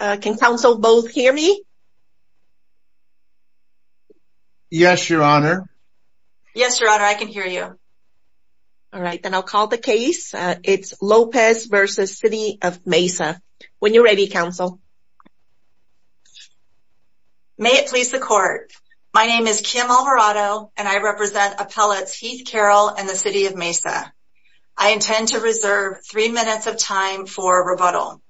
May it please the court, my name is Kim Alvarado and I represent Appellates Heath Carroll and the City of Mesa. I intend to reserve 3 minutes of time for rebuttal.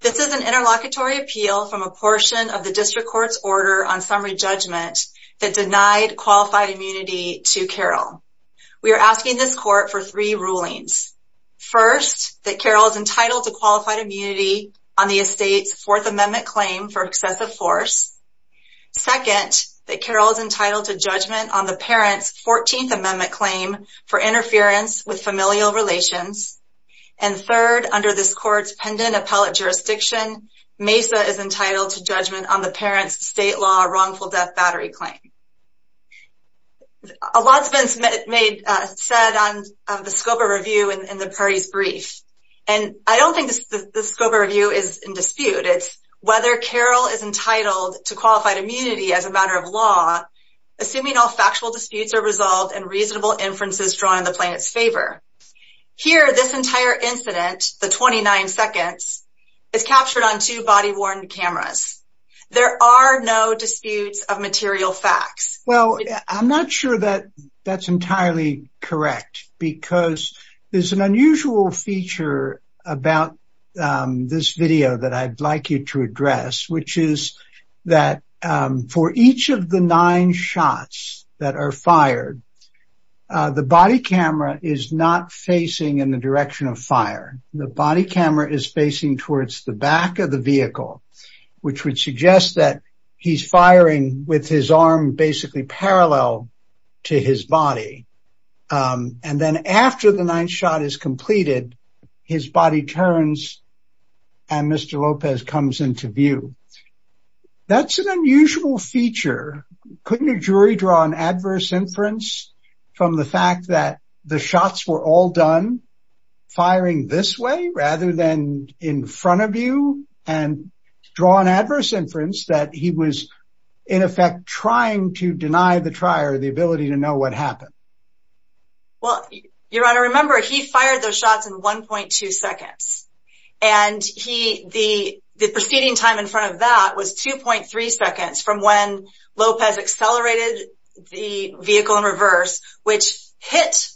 This is an interlocutory appeal from a portion of the district court's order on summary judgment that denied qualified immunity to Carroll. We are asking this court for 3 rulings. First that Carroll is entitled to qualified immunity on the estate's 4th amendment claim for excessive force. Second that Carroll is entitled to judgment on the parent's 14th amendment claim for interference with familial relations. And third, under this court's pendent appellate jurisdiction, Mesa is entitled to judgment on the parent's state law wrongful death battery claim. A lot has been said on the scope of review in the party's brief. And I don't think the scope of review is in dispute, it's whether Carroll is entitled to qualified immunity as a matter of law, assuming all factual disputes are resolved and reasonable inferences drawn in the plaintiff's favor. Here this entire incident, the 29 seconds, is captured on two body-worn cameras. There are no disputes of material facts. Well, I'm not sure that that's entirely correct because there's an unusual feature about this The body camera is not facing in the direction of fire. The body camera is facing towards the back of the vehicle, which would suggest that he's firing with his arm basically parallel to his body. And then after the 9th shot is completed, his body turns and Mr. Lopez comes into view. That's an unusual feature. Couldn't a jury draw an adverse inference from the fact that the shots were all done firing this way rather than in front of you and draw an adverse inference that he was in effect trying to deny the trier the ability to know what happened? Well, Your Honor, remember he fired those shots in 1.2 seconds. And the proceeding time in front of that was 2.3 seconds from when Lopez accelerated the vehicle in reverse, which hit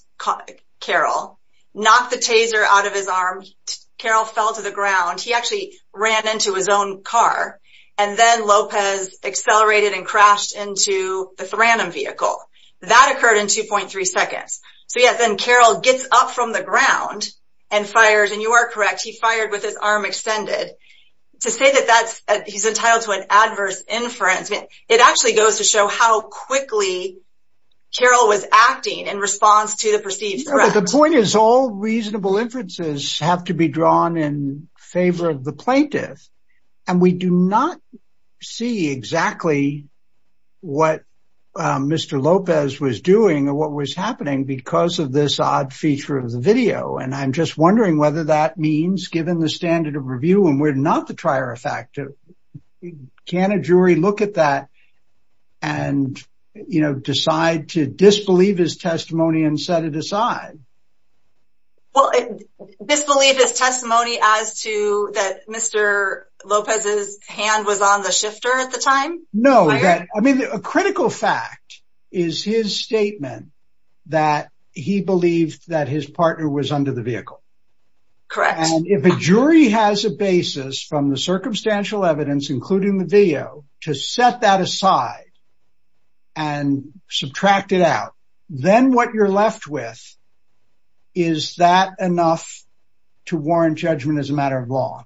Carroll, knocked the taser out of his arm. Carroll fell to the ground. He actually ran into his own car. And then Lopez accelerated and crashed into the random vehicle. That occurred in 2.3 seconds. So, yes, and Carroll gets up from the ground and fires. And you are correct. He fired with his arm extended to say that that's he's entitled to an adverse inference. It actually goes to show how quickly Carroll was acting in response to the perceived threat. The point is, all reasonable inferences have to be drawn in favor of the plaintiff. And we do not see exactly what Mr. Lopez was doing or what was happening because of this odd feature of the video. And I'm just wondering whether that means given the standard of review, and we're not the trier effect, can a jury look at that and, you know, decide to disbelieve his testimony and set it aside? Well, disbelieve his testimony as to that Mr. Lopez's hand was on the shifter at the time? No, I mean, a critical fact is his statement that he believed that his partner was under the vehicle. Correct. And if a jury has a basis from the circumstantial evidence, including the video, to set that aside and subtract it out, then what you're left with is that enough to warrant judgment as a matter of law?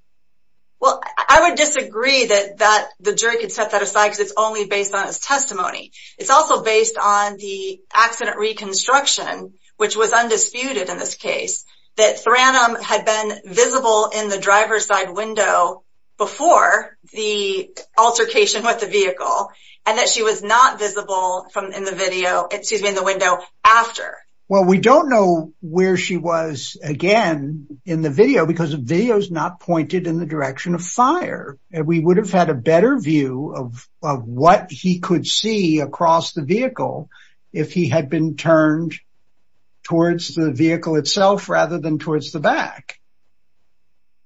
Well, I would disagree that that the jury could set that aside because it's only based on his testimony. It's also based on the accident reconstruction, which was undisputed in this with the vehicle and that she was not visible from in the video, excuse me, in the window after. Well, we don't know where she was again in the video because the video is not pointed in the direction of fire. And we would have had a better view of what he could see across the vehicle if he had been turned towards the vehicle itself rather than towards the back.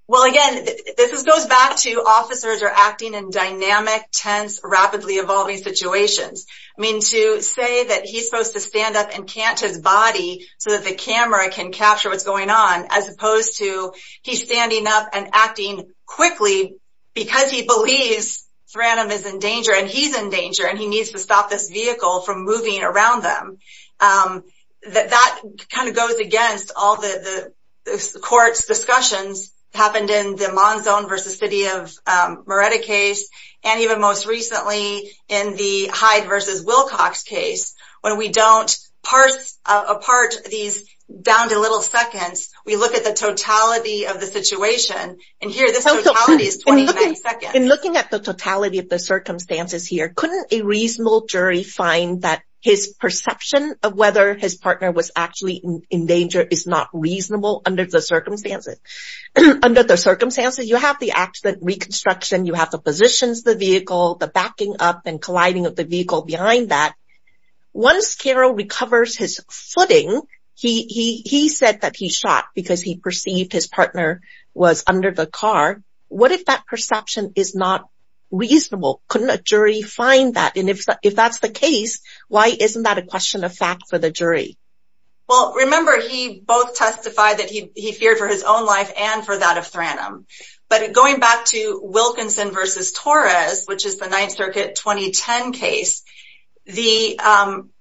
Well, again, this goes back to officers are acting in dynamic, tense, rapidly evolving situations. I mean, to say that he's supposed to stand up and catch his body so that the camera can capture what's going on, as opposed to he's standing up and acting quickly because he believes Branham is in danger and he's in danger and he needs to stop this vehicle from moving around them. That kind of goes against all the court's discussions happened in the Monzon versus City of Moretta case. And even most recently in the Hyde versus Wilcox case, when we don't parse apart these down to little seconds, we look at the totality of the situation. And here this totality is 20 seconds. In looking at the totality of the circumstances here, couldn't a reasonable jury find that his perception of whether his partner was actually in danger is not reasonable under the circumstances? Under the circumstances, you have the accident reconstruction, you have the positions, the vehicle, the backing up and colliding of the vehicle behind that. Once Carol recovers his footing, he said that he shot because he perceived his partner was under the car. What if that perception is not reasonable? Couldn't a jury find that? And if that's the case, why isn't that a question of fact for the jury? Well, remember, he both testified that he feared for his own life and for that of Branham. But going back to Wilkinson versus Torres, which is the Ninth Circuit 2010 case,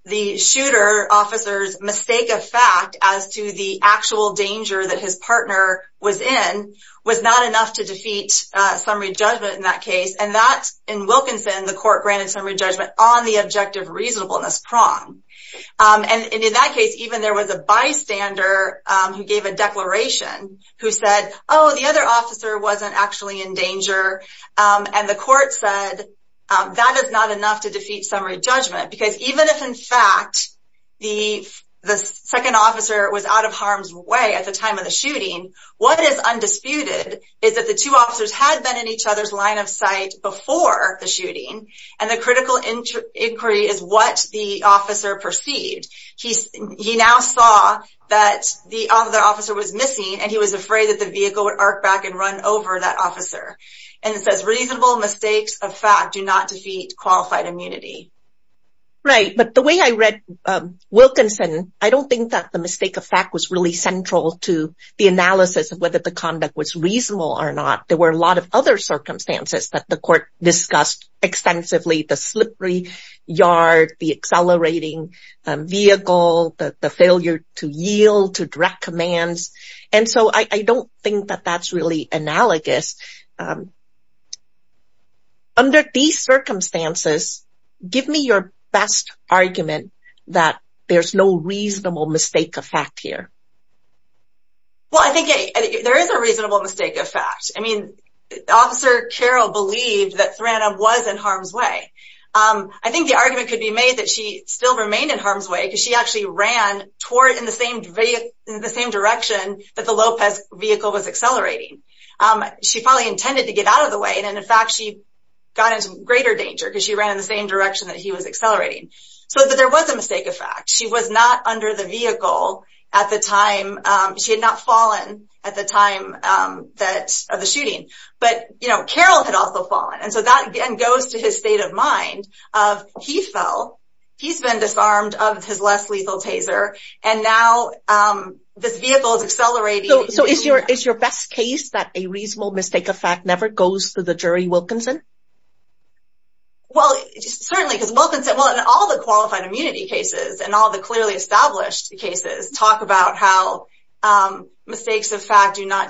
the shooter officer's mistake of fact as to the actual danger that his partner was in was not enough to defeat summary judgment in that case. And that in Wilkinson, the court granted summary judgment on the objective reasonableness prong. And in that case, even there was a bystander who gave a declaration who said, oh, the other officer wasn't actually in danger. And the court said, that is not enough to defeat summary judgment. Because even if in fact, the second officer was out of harm's way at the time of the shooting, what is undisputed is that the two officers had been in each other's line of sight before the shooting. And the critical inquiry is what the officer perceived. He now saw that the other officer was missing, and he was afraid that the vehicle would arc back and run over that officer. And it says reasonable mistakes of fact do not defeat qualified immunity. Right. But the way I read Wilkinson, I don't think that the mistake of fact was really central to the analysis of whether the conduct was reasonable or not. There were a lot of other extensively, the slippery yard, the accelerating vehicle, the failure to yield to direct commands. And so I don't think that that's really analogous. Under these circumstances, give me your best argument that there's no reasonable mistake of fact here. Well, I think there is a reasonable mistake of fact. I mean, Officer Carroll believed that Thrandam was in harm's way. I think the argument could be made that she still remained in harm's way because she actually ran toward in the same direction that the Lopez vehicle was accelerating. She probably intended to get out of the way. And in fact, she got into greater danger because she ran in the same direction that he was accelerating. So there was a mistake of fact. She was not under the vehicle at the time. She had not fallen at the time of the shooting. But Carroll had also fallen. And so that goes to his state of mind of he fell. He's been disarmed of his less lethal taser. And now this vehicle is accelerating. So is your best case that a reasonable mistake of fact never goes to the jury, Wilkinson? Well, certainly, because Wilkinson, well, in all the qualified immunity cases and all the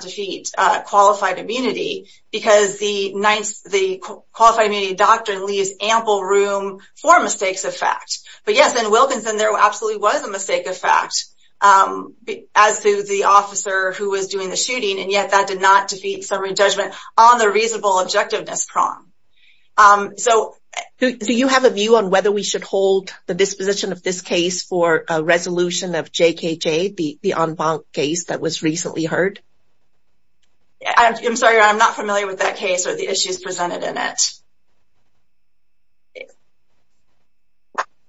defeats, qualified immunity, because the qualified immunity doctrine leaves ample room for mistakes of fact. But yes, in Wilkinson, there absolutely was a mistake of fact as to the officer who was doing the shooting. And yet that did not defeat summary judgment on the reasonable objectiveness prong. So do you have a view on whether we should hold the disposition of this case for a resolution of JKJ, the en banc case that was recently heard? I'm sorry, I'm not familiar with that case or the issues presented in it.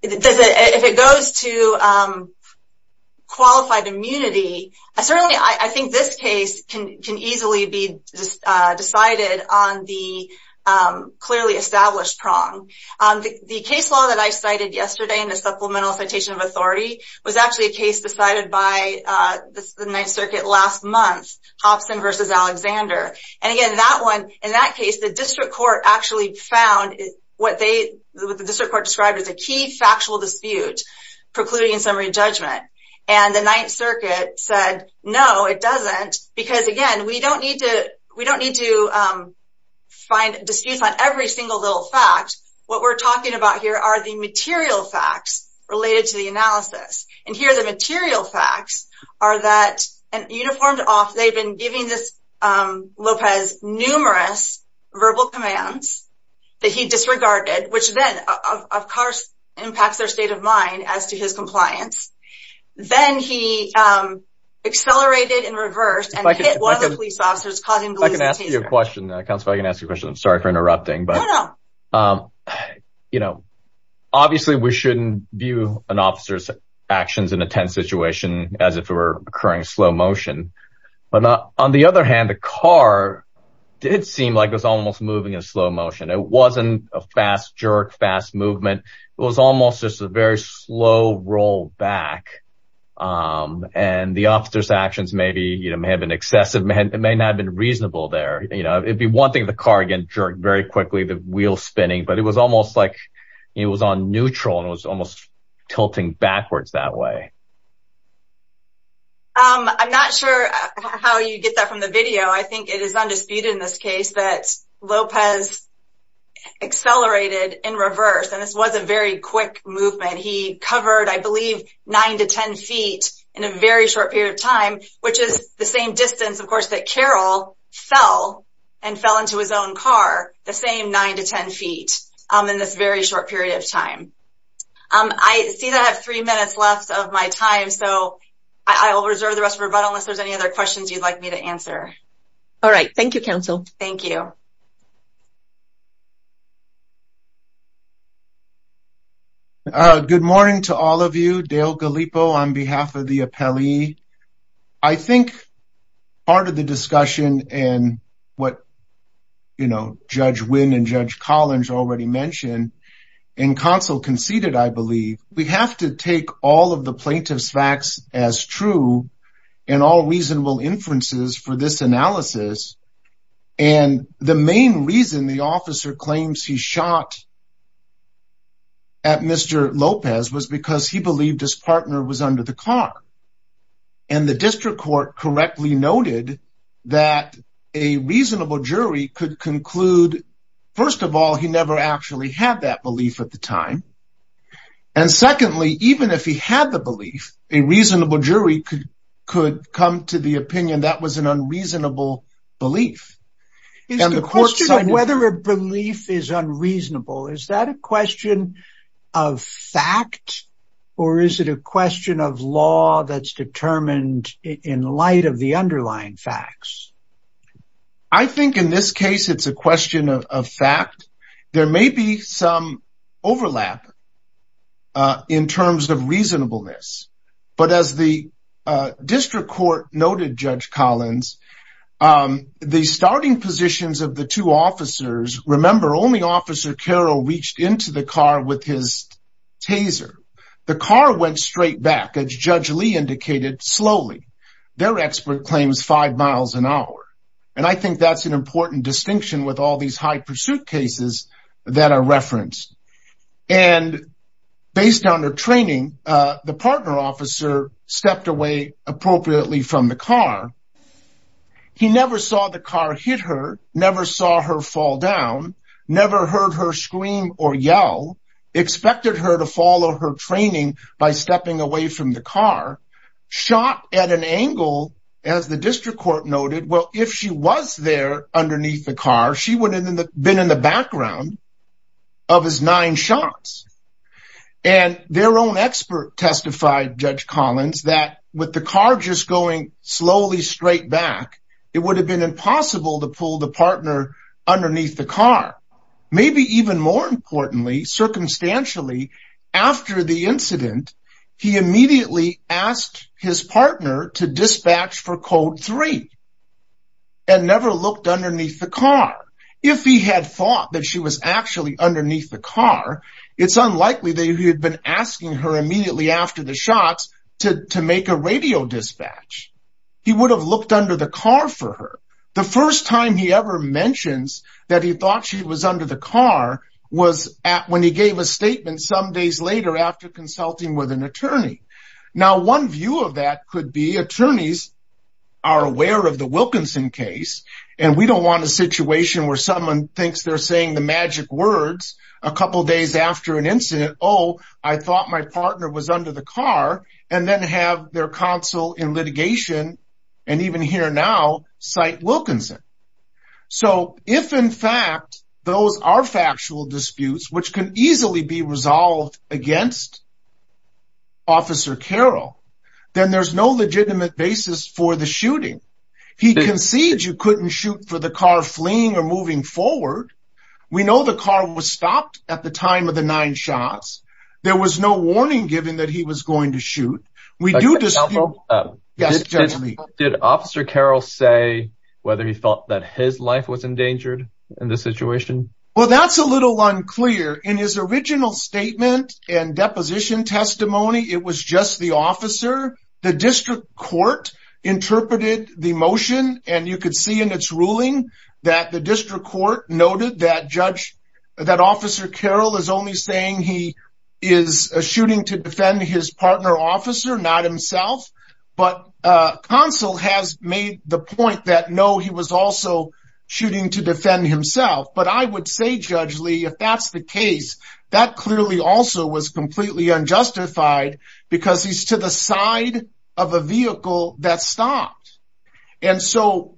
If it goes to qualified immunity, certainly, I think this case can easily be decided on the clearly established prong. The case law that I cited yesterday in the Supplemental Citation of Authority was actually a case decided by the Ninth Circuit last month, Hobson versus Alexander. And again, in that case, the district court actually found what the district court described as a key factual dispute precluding summary judgment. And the Ninth Circuit said, no, it doesn't. Because again, we don't need to find disputes on every single little fact. What we're talking about here are the material facts related to the analysis. And here, the material facts are that an uniformed officer, they've been giving this Lopez numerous verbal commands that he disregarded, which then, of course, impacts their state of mind as to his compliance. Then he accelerated and reversed and hit one of the police officers, causing them to lose the taser. If I can ask you a question, sorry for interrupting. Obviously, we shouldn't view an officer's actions in a tense situation as if it were occurring in slow motion. But on the other hand, the car did seem like it was almost moving in slow motion. It wasn't a fast jerk, fast movement. It was almost just a very slow rollback. And the officer's actions may have been excessive. It may not have been reasonable there. It'd be one thing if the car again jerked very quickly, the wheel spinning. But it was almost like it was on neutral and it was almost tilting backwards that way. I'm not sure how you get that from the video. I think it is undisputed in this case that Lopez accelerated in reverse. And this was a very quick movement. He covered, I believe, nine to 10 feet in a very short period of time, which is the same distance, of course, that Carroll fell and fell into his own car, the same nine to 10 feet in this very short period of time. I see that I have three minutes left of my time. So I will reserve the rest of it, but unless there's any other questions you'd like me to answer. All right. Thank you, counsel. Thank you. Good morning to all of you. Dale Pelley. I think part of the discussion and what, you know, Judge Wynn and Judge Collins already mentioned, and counsel conceded, I believe, we have to take all of the plaintiff's facts as true and all reasonable inferences for this analysis. And the main reason the officer claims he shot at Mr. Lopez was because he believed his partner was under the car. And the district court correctly noted that a reasonable jury could conclude, first of all, he never actually had that belief at the time. And secondly, even if he had the belief, a reasonable jury could come to the opinion that was an unreasonable belief. Is the question of whether a belief is unreasonable, is that a question of fact, or is it a question of law that's determined in light of the underlying facts? I think in this case, it's a question of fact. There may be some overlap in terms of reasonableness. But as the district court noted, Judge Collins, the starting positions of the two officers, remember, only Officer Carroll reached into the car with his taser. The car went straight back, as Judge Lee indicated, slowly. Their expert claims five miles an hour. And I think that's an important distinction with all these high pursuit cases that are referenced. And based on her training, the partner officer stepped away appropriately from the car. He never saw the car hit her, never saw her fall down, never heard her scream or yell, expected her to follow her training by stepping away from the car. Shot at an angle, as the district court noted, well, if she was there underneath the car, she would have been in the background of his nine shots. And their own expert testified, Judge Collins, that with the car just going slowly straight back, it would have been impossible to pull the partner underneath the car. Maybe even more importantly, circumstantially, after the incident, he immediately asked his partner to dispatch for code three and never looked underneath the car. If he had thought that she was actually underneath the car, it's unlikely that he had been asking her immediately after the shots to make a radio dispatch. He would have looked under the car for her. The first time he ever mentions that he thought she was under the car was when he gave a statement some days later after consulting with an attorney. Now, one view of that could be attorneys are aware of the Wilkinson case, and we don't want a situation where someone thinks they're saying the magic words a couple of days after an incident, oh, I thought my partner was under the car, and then have their counsel in litigation, and even here now, cite Wilkinson. So if, in fact, those are factual disputes, which can easily be resolved against Officer Carroll, then there's no legitimate basis for the shooting. He concedes you couldn't shoot for the car fleeing or moving forward. We know the car was stopped at the time of the nine shots. There was no warning given that he was going to shoot. We do this. Did Officer Carroll say whether he thought that his life was endangered in the situation? Well, that's a little unclear. In his original statement and deposition testimony, it was just the officer. The district court interpreted the motion, and you could see in its ruling that the district court noted that Officer Carroll is only saying he is shooting to defend his partner officer, not himself. But counsel has made the point that no, he was also shooting to defend himself. But I would say, Judge Lee, if that's the case, that clearly also was completely unjustified because he's to the side of a vehicle that stopped. And so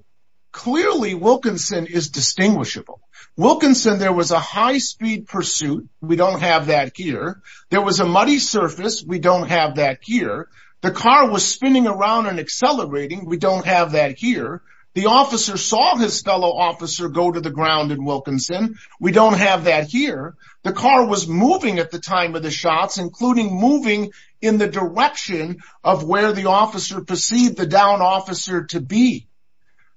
clearly, Wilkinson is distinguishable. Wilkinson, there was a high speed pursuit. We don't have that here. There was a muddy surface. We don't have that here. The car was spinning around and accelerating. We don't have that here. The officer saw his fellow officer go to the ground in Wilkinson. We don't have that here. The car was moving at the time of the shots, including moving in the direction of where the officer perceived the downed officer to be.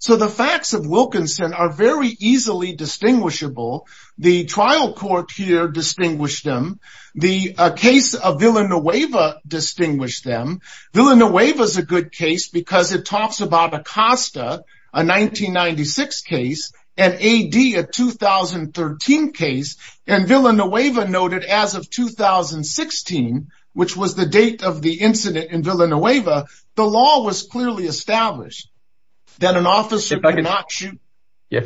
So the facts of Wilkinson are very easily distinguishable. The trial court here distinguished them. The case of Villanueva distinguished them. Villanueva is a good case because it talks about Acosta, a 1996 case, and A.D., a 2013 case. And Villanueva noted as of 2016, which was the date of the incident in Villanueva, the law was clearly established that an officer could not shoot.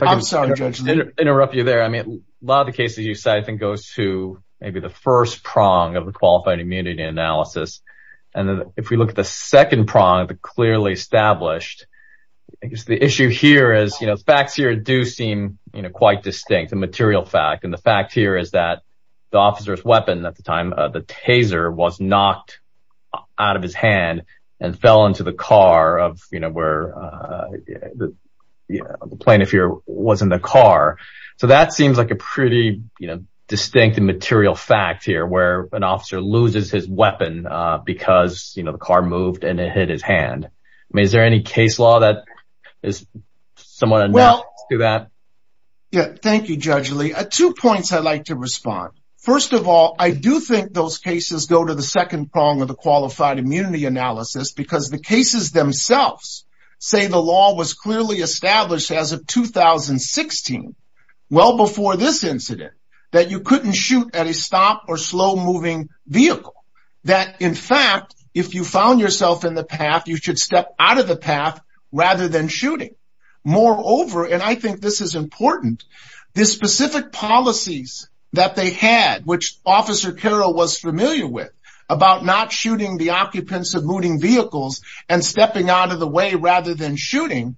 I'm sorry, Judge Lee. Interrupt you there. I mean, a lot of the cases you cite, I think, goes to maybe the first prong of the qualified immunity analysis. And then if we look at the second prong, the clearly established, I guess the issue here is, you know, facts here do seem, you know, quite distinct, a material fact. And the fact here is that the officer's weapon at the time, the taser, was knocked out of his hand and fell into the car of, you know, where the plane, if you're, was in the car. So that seems like a pretty, you know, distinct and material fact here where an officer loses his weapon because, you know, the car moved and it hit his hand. I mean, is there any case law that is somewhat enough to do that? Yeah, thank you, Judge Lee. Two points I'd like to respond. First of all, I do think those cases go to the second prong of the qualified immunity analysis because the cases themselves say the law was clearly established as of 2016, well before this incident, that you couldn't shoot at a stop or slow moving vehicle. That, in fact, if you found yourself in the path, you should step out of the path rather than shooting. Moreover, and I think this is important, the specific policies that they had, which Officer Carroll was familiar with, about not shooting the occupants of moving vehicles and stepping out of the way rather than shooting,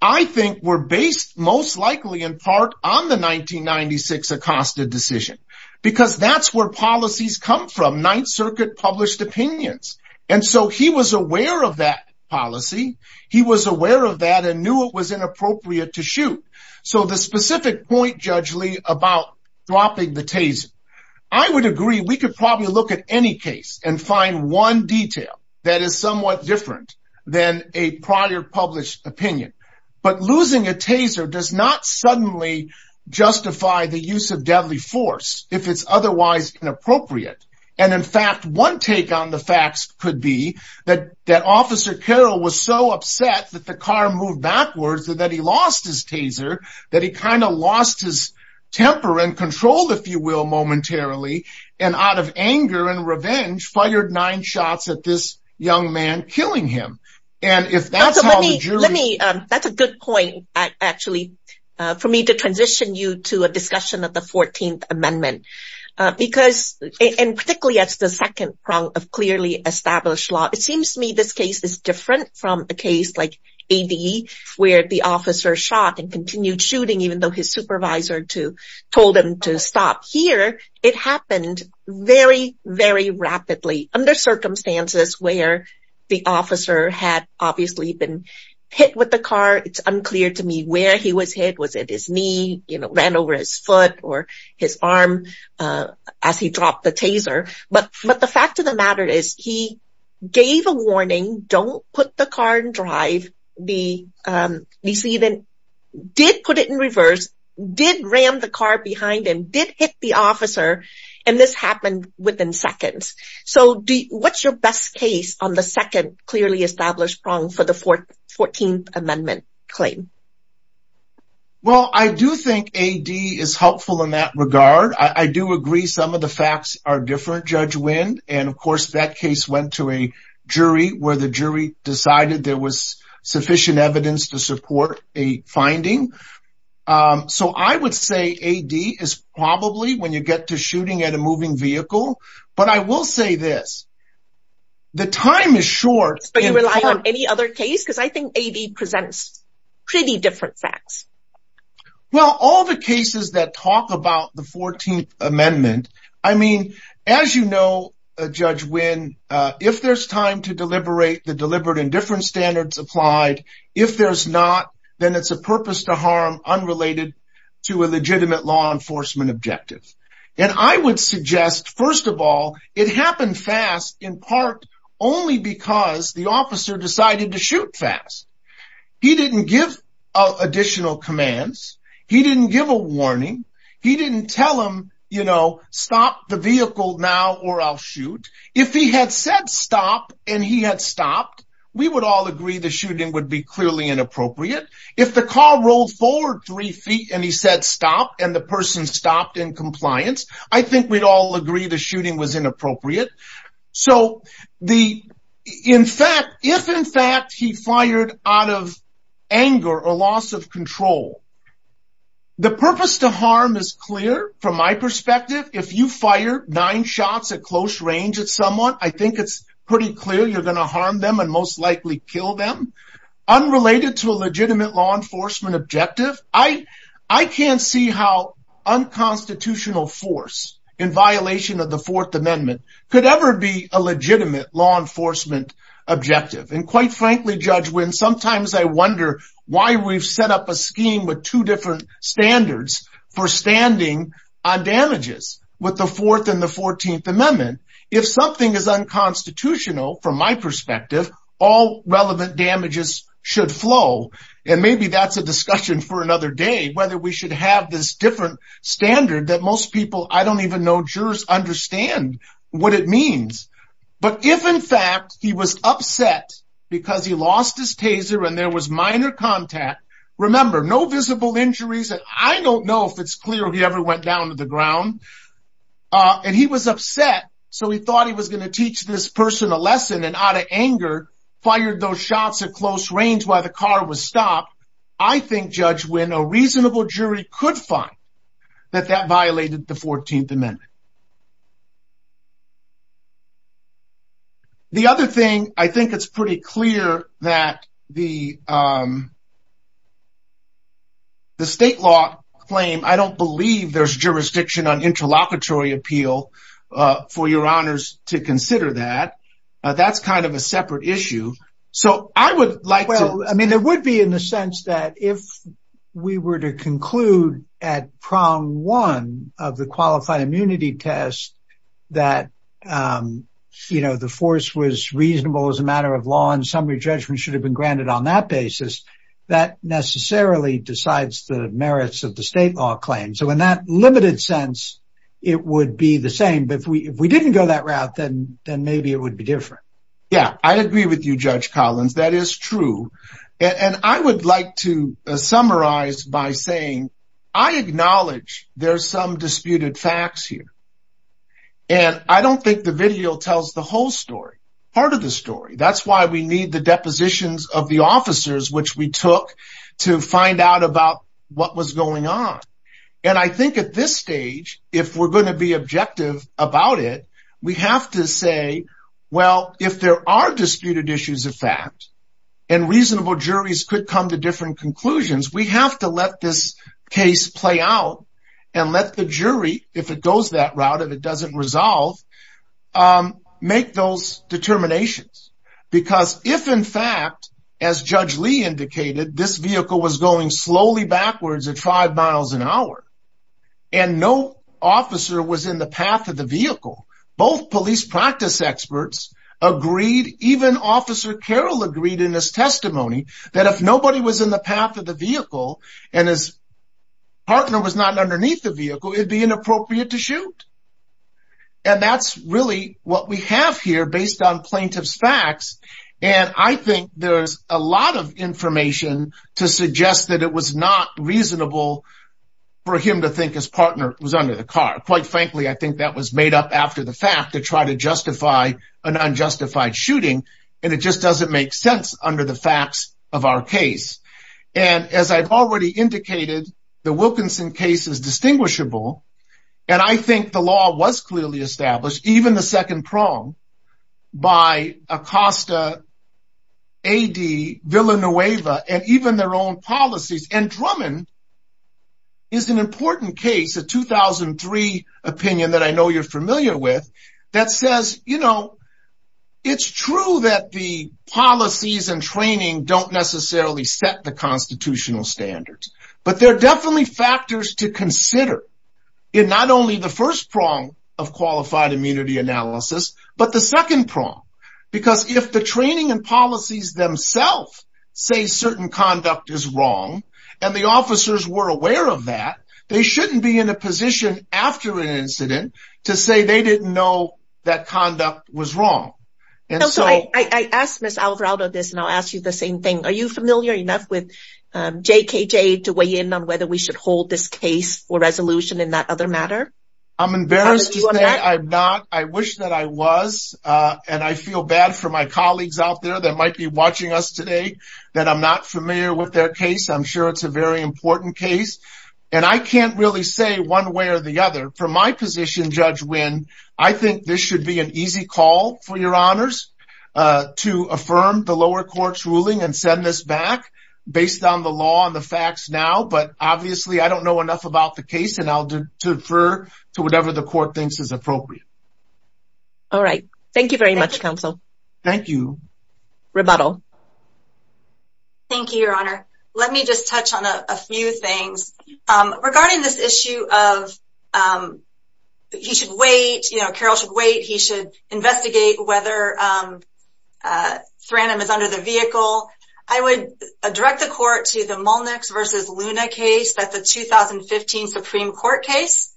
I think were based most likely in part on the 1996 Acosta decision because that's where policies come from, Ninth Circuit published opinions. And so he was aware of that policy. He was aware of that and knew it was inappropriate to shoot. So the specific point, Judge Lee, about dropping the taser, I would agree we could probably look at any case and find one detail that is somewhat different than a prior published opinion. But losing a taser does not suddenly justify the use of deadly force if it's otherwise inappropriate. And in fact, one take on the facts could be that Officer Carroll was so upset that the car moved backwards and that he lost his taser, that he kind of lost his temper and lost control, if you will, momentarily, and out of anger and revenge, fired nine shots at this young man killing him. And if that's how the jury... That's a good point, actually, for me to transition you to a discussion of the 14th Amendment. Because, and particularly as the second prong of clearly established law, it seems to me this case is different from a case like A.D.E. where the officer shot and continued shooting even though his supervisor told him to stop. Here, it happened very, very rapidly under circumstances where the officer had obviously been hit with the car. It's unclear to me where he was hit. Was it his knee, you know, ran over his foot or his arm as he dropped the taser? But the fact of the matter is he gave a warning, don't put the car in drive, did put it in reverse, did ram the car behind him, did hit the officer, and this happened within seconds. So what's your best case on the second clearly established prong for the 14th Amendment claim? Well, I do think A.D.E. is helpful in that regard. I do agree some of the facts are different, Judge went to a jury where the jury decided there was sufficient evidence to support a finding. So I would say A.D.E. is probably when you get to shooting at a moving vehicle. But I will say this, the time is short. But you rely on any other case? Because I think A.D.E. presents pretty different facts. Well, all the cases that talk about the 14th Amendment, I mean, as you know, Judge Winn, if there's time to deliberate, the deliberate and different standards applied. If there's not, then it's a purpose to harm unrelated to a legitimate law enforcement objective. And I would suggest, first of all, it happened fast in part only because the officer decided to shoot fast. He didn't give additional commands. He didn't give a warning. He didn't tell him, you know, stop the vehicle now or I'll shoot. If he had said stop and he had stopped, we would all agree the shooting would be clearly inappropriate. If the car rolled forward three feet and he said stop and the person stopped in compliance, I think we'd all agree the shooting was inappropriate. So if in fact he fired out of anger or loss of control, the purpose to harm is clear from my perspective. If you fire nine shots at close range at someone, I think it's pretty clear you're going to harm them and most likely kill them. Unrelated to a legitimate law constitutional force in violation of the Fourth Amendment, could ever be a legitimate law enforcement objective. And quite frankly, Judge Winn, sometimes I wonder why we've set up a scheme with two different standards for standing on damages with the Fourth and the Fourteenth Amendment. If something is unconstitutional, from my perspective, all relevant damages should flow. And maybe that's a discussion for another day, whether we should have this different standard that most people, I don't even know, jurors understand what it means. But if in fact he was upset because he lost his taser and there was minor contact, remember no visible injuries, and I don't know if it's clear he ever went down to the ground, and he was upset so he thought he was going to teach this person a lesson and out of anger fired those shots at close range while the car was stopped. I think, Judge Winn, a reasonable jury could find that that violated the Fourteenth Amendment. The other thing, I think it's pretty clear that the state law claim, I don't believe there's jurisdiction on interlocutory appeal for your honors to consider that. That's kind of a separate issue. So I would like to... Well, I mean, there would be in the sense that if we were to conclude at prong one of the qualified immunity test that, you know, the force was reasonable as a matter of law and summary judgment should have been granted on that basis, that necessarily decides the merits of the state law claim. So in that limited sense, it would be the same. But if we didn't go that route, then maybe it would be different. Yeah, I agree with you, Judge Collins. That is true. And I would like to summarize by saying I acknowledge there's some disputed facts here. And I don't think the video tells the whole story, part of the story. That's why we need the depositions of the officers, which we took to find out about what was going on. And I think at this stage, if we're going to be objective about it, we have to say, well, if there are disputed issues of fact, and reasonable juries could come to different conclusions, we have to let this case play out and let the jury, if it goes that route, if it doesn't resolve, make those determinations. Because if in fact, as Judge Lee indicated, this vehicle was going slowly backwards at five miles an hour, and no officer was in the path of the vehicle, both police practice experts agreed, even Officer Carroll agreed in his testimony, that if nobody was in the path of the vehicle, and his partner was not underneath the vehicle, it'd be inappropriate to shoot. And that's really what we have here based on plaintiff's facts. And I think there's a lot of information to suggest that it was not reasonable for him to think his partner was under the car. Quite frankly, I think that was made up after the fact to try to justify an unjustified shooting. And it just doesn't make sense under the facts of our case. And as I've already indicated, the Wilkinson case is distinguishable. And I think the law was clearly established, even the second prong, by Acosta, A.D., Villanueva, and even their own policies. And Drummond is an important case, a 2003 opinion that I know you're familiar with, that says, you know, it's true that the policies and training don't necessarily set the constitutional standards. But they're definitely factors to consider in not only the first prong of qualified immunity analysis, but the second prong. Because if the training and policies themselves say certain conduct is wrong, and the officers were aware of that, they shouldn't be in a position after an incident to say they didn't know that conduct was wrong. And so I asked Ms. Alvarado this, and I'll ask you the same thing. Are you familiar enough with JKJ to weigh in on whether we should hold this case for resolution in that other matter? I'm embarrassed to say I'm not. I wish that I was. And I feel bad for my colleagues out there that might be watching us today that I'm not familiar with their case. I'm sure it's a very win. I think this should be an easy call for your honors to affirm the lower court's ruling and send this back based on the law and the facts now. But obviously, I don't know enough about the case and I'll defer to whatever the court thinks is appropriate. All right. Thank you very much, counsel. Thank you. Rebuttal. Thank you, Your Honor. Let me just touch on a few things. Regarding this issue of he should wait, you know, Carroll should wait, he should investigate whether Thrandam is under the vehicle, I would direct the court to the Mullnix v. Luna case, that's a 2015 Supreme Court case.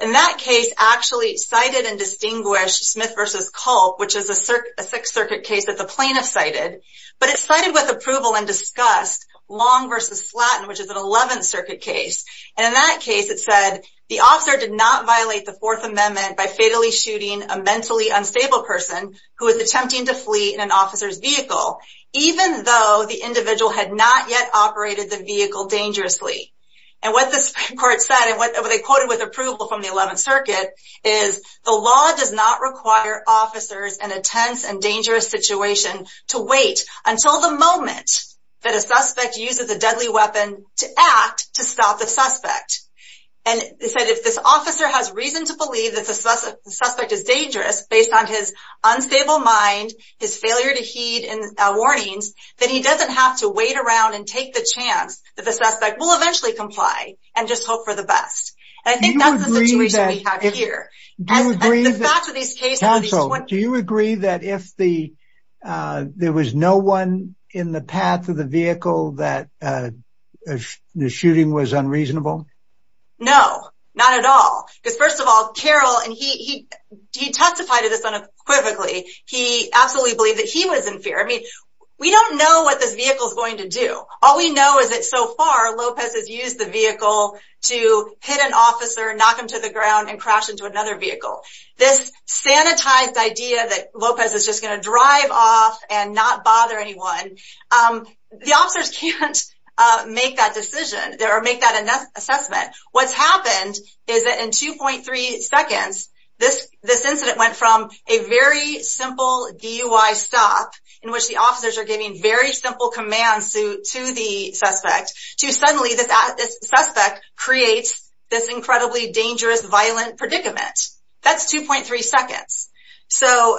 And that case actually cited and distinguished Smith v. Culp, which is a Sixth Circuit case that the plaintiff cited. But it cited with approval and discussed Long v. Slatton, which is an Eleventh Circuit case. And in that case, it said the officer did not violate the Fourth Amendment by fatally shooting a mentally unstable person who was attempting to flee in an officer's vehicle, even though the individual had not yet operated the vehicle dangerously. And what the Supreme Court said, and what they quoted with approval from the Eleventh Circuit, is the law does not require officers in a tense and dangerous situation to wait until the moment that a suspect uses a deadly weapon to act to stop the suspect. And it said if this officer has reason to believe that the suspect is dangerous based on his unstable mind, his failure to heed warnings, then he doesn't have to wait around and take the chance that the suspect will eventually comply and just Do you agree that if there was no one in the path of the vehicle that the shooting was unreasonable? No, not at all. Because first of all, Carroll, and he testified to this unequivocally, he absolutely believed that he was in fear. I mean, we don't know what this vehicle is going to do. All we know is that so far, Lopez has used the vehicle to hit an officer, knock him to the idea that Lopez is just going to drive off and not bother anyone. The officers can't make that decision or make that assessment. What's happened is that in 2.3 seconds, this incident went from a very simple DUI stop, in which the officers are giving very simple commands to the suspect, to suddenly this suspect creates this incredibly dangerous, violent predicament. That's 2.3 seconds. So,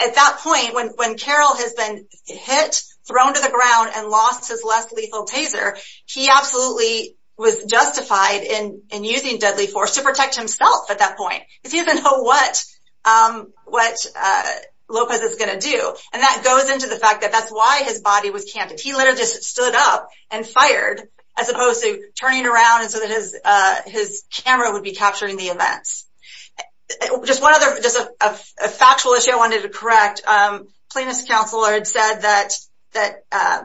at that point, when Carroll has been hit, thrown to the ground, and lost his less lethal taser, he absolutely was justified in using deadly force to protect himself at that point, because he doesn't know what Lopez is going to do. And that goes into the fact that that's why his body was canted. He literally just stood up and fired, as opposed to turning around so that his camera would be capturing the events. Just one other, just a factual issue I wanted to correct. Plaintiff's counsel had said that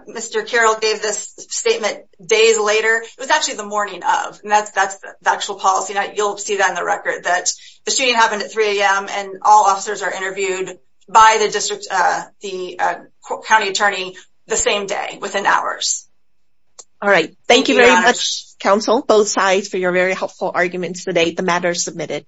Mr. Carroll gave this statement days later. It was actually the morning of, and that's the actual policy. You'll see that in the record, that the shooting happened at 3 a.m. and all officers are interviewed by the district, the county attorney the same day, within hours. All right. Thank you very much, counsel, both sides, for your very helpful arguments today. The matter is submitted.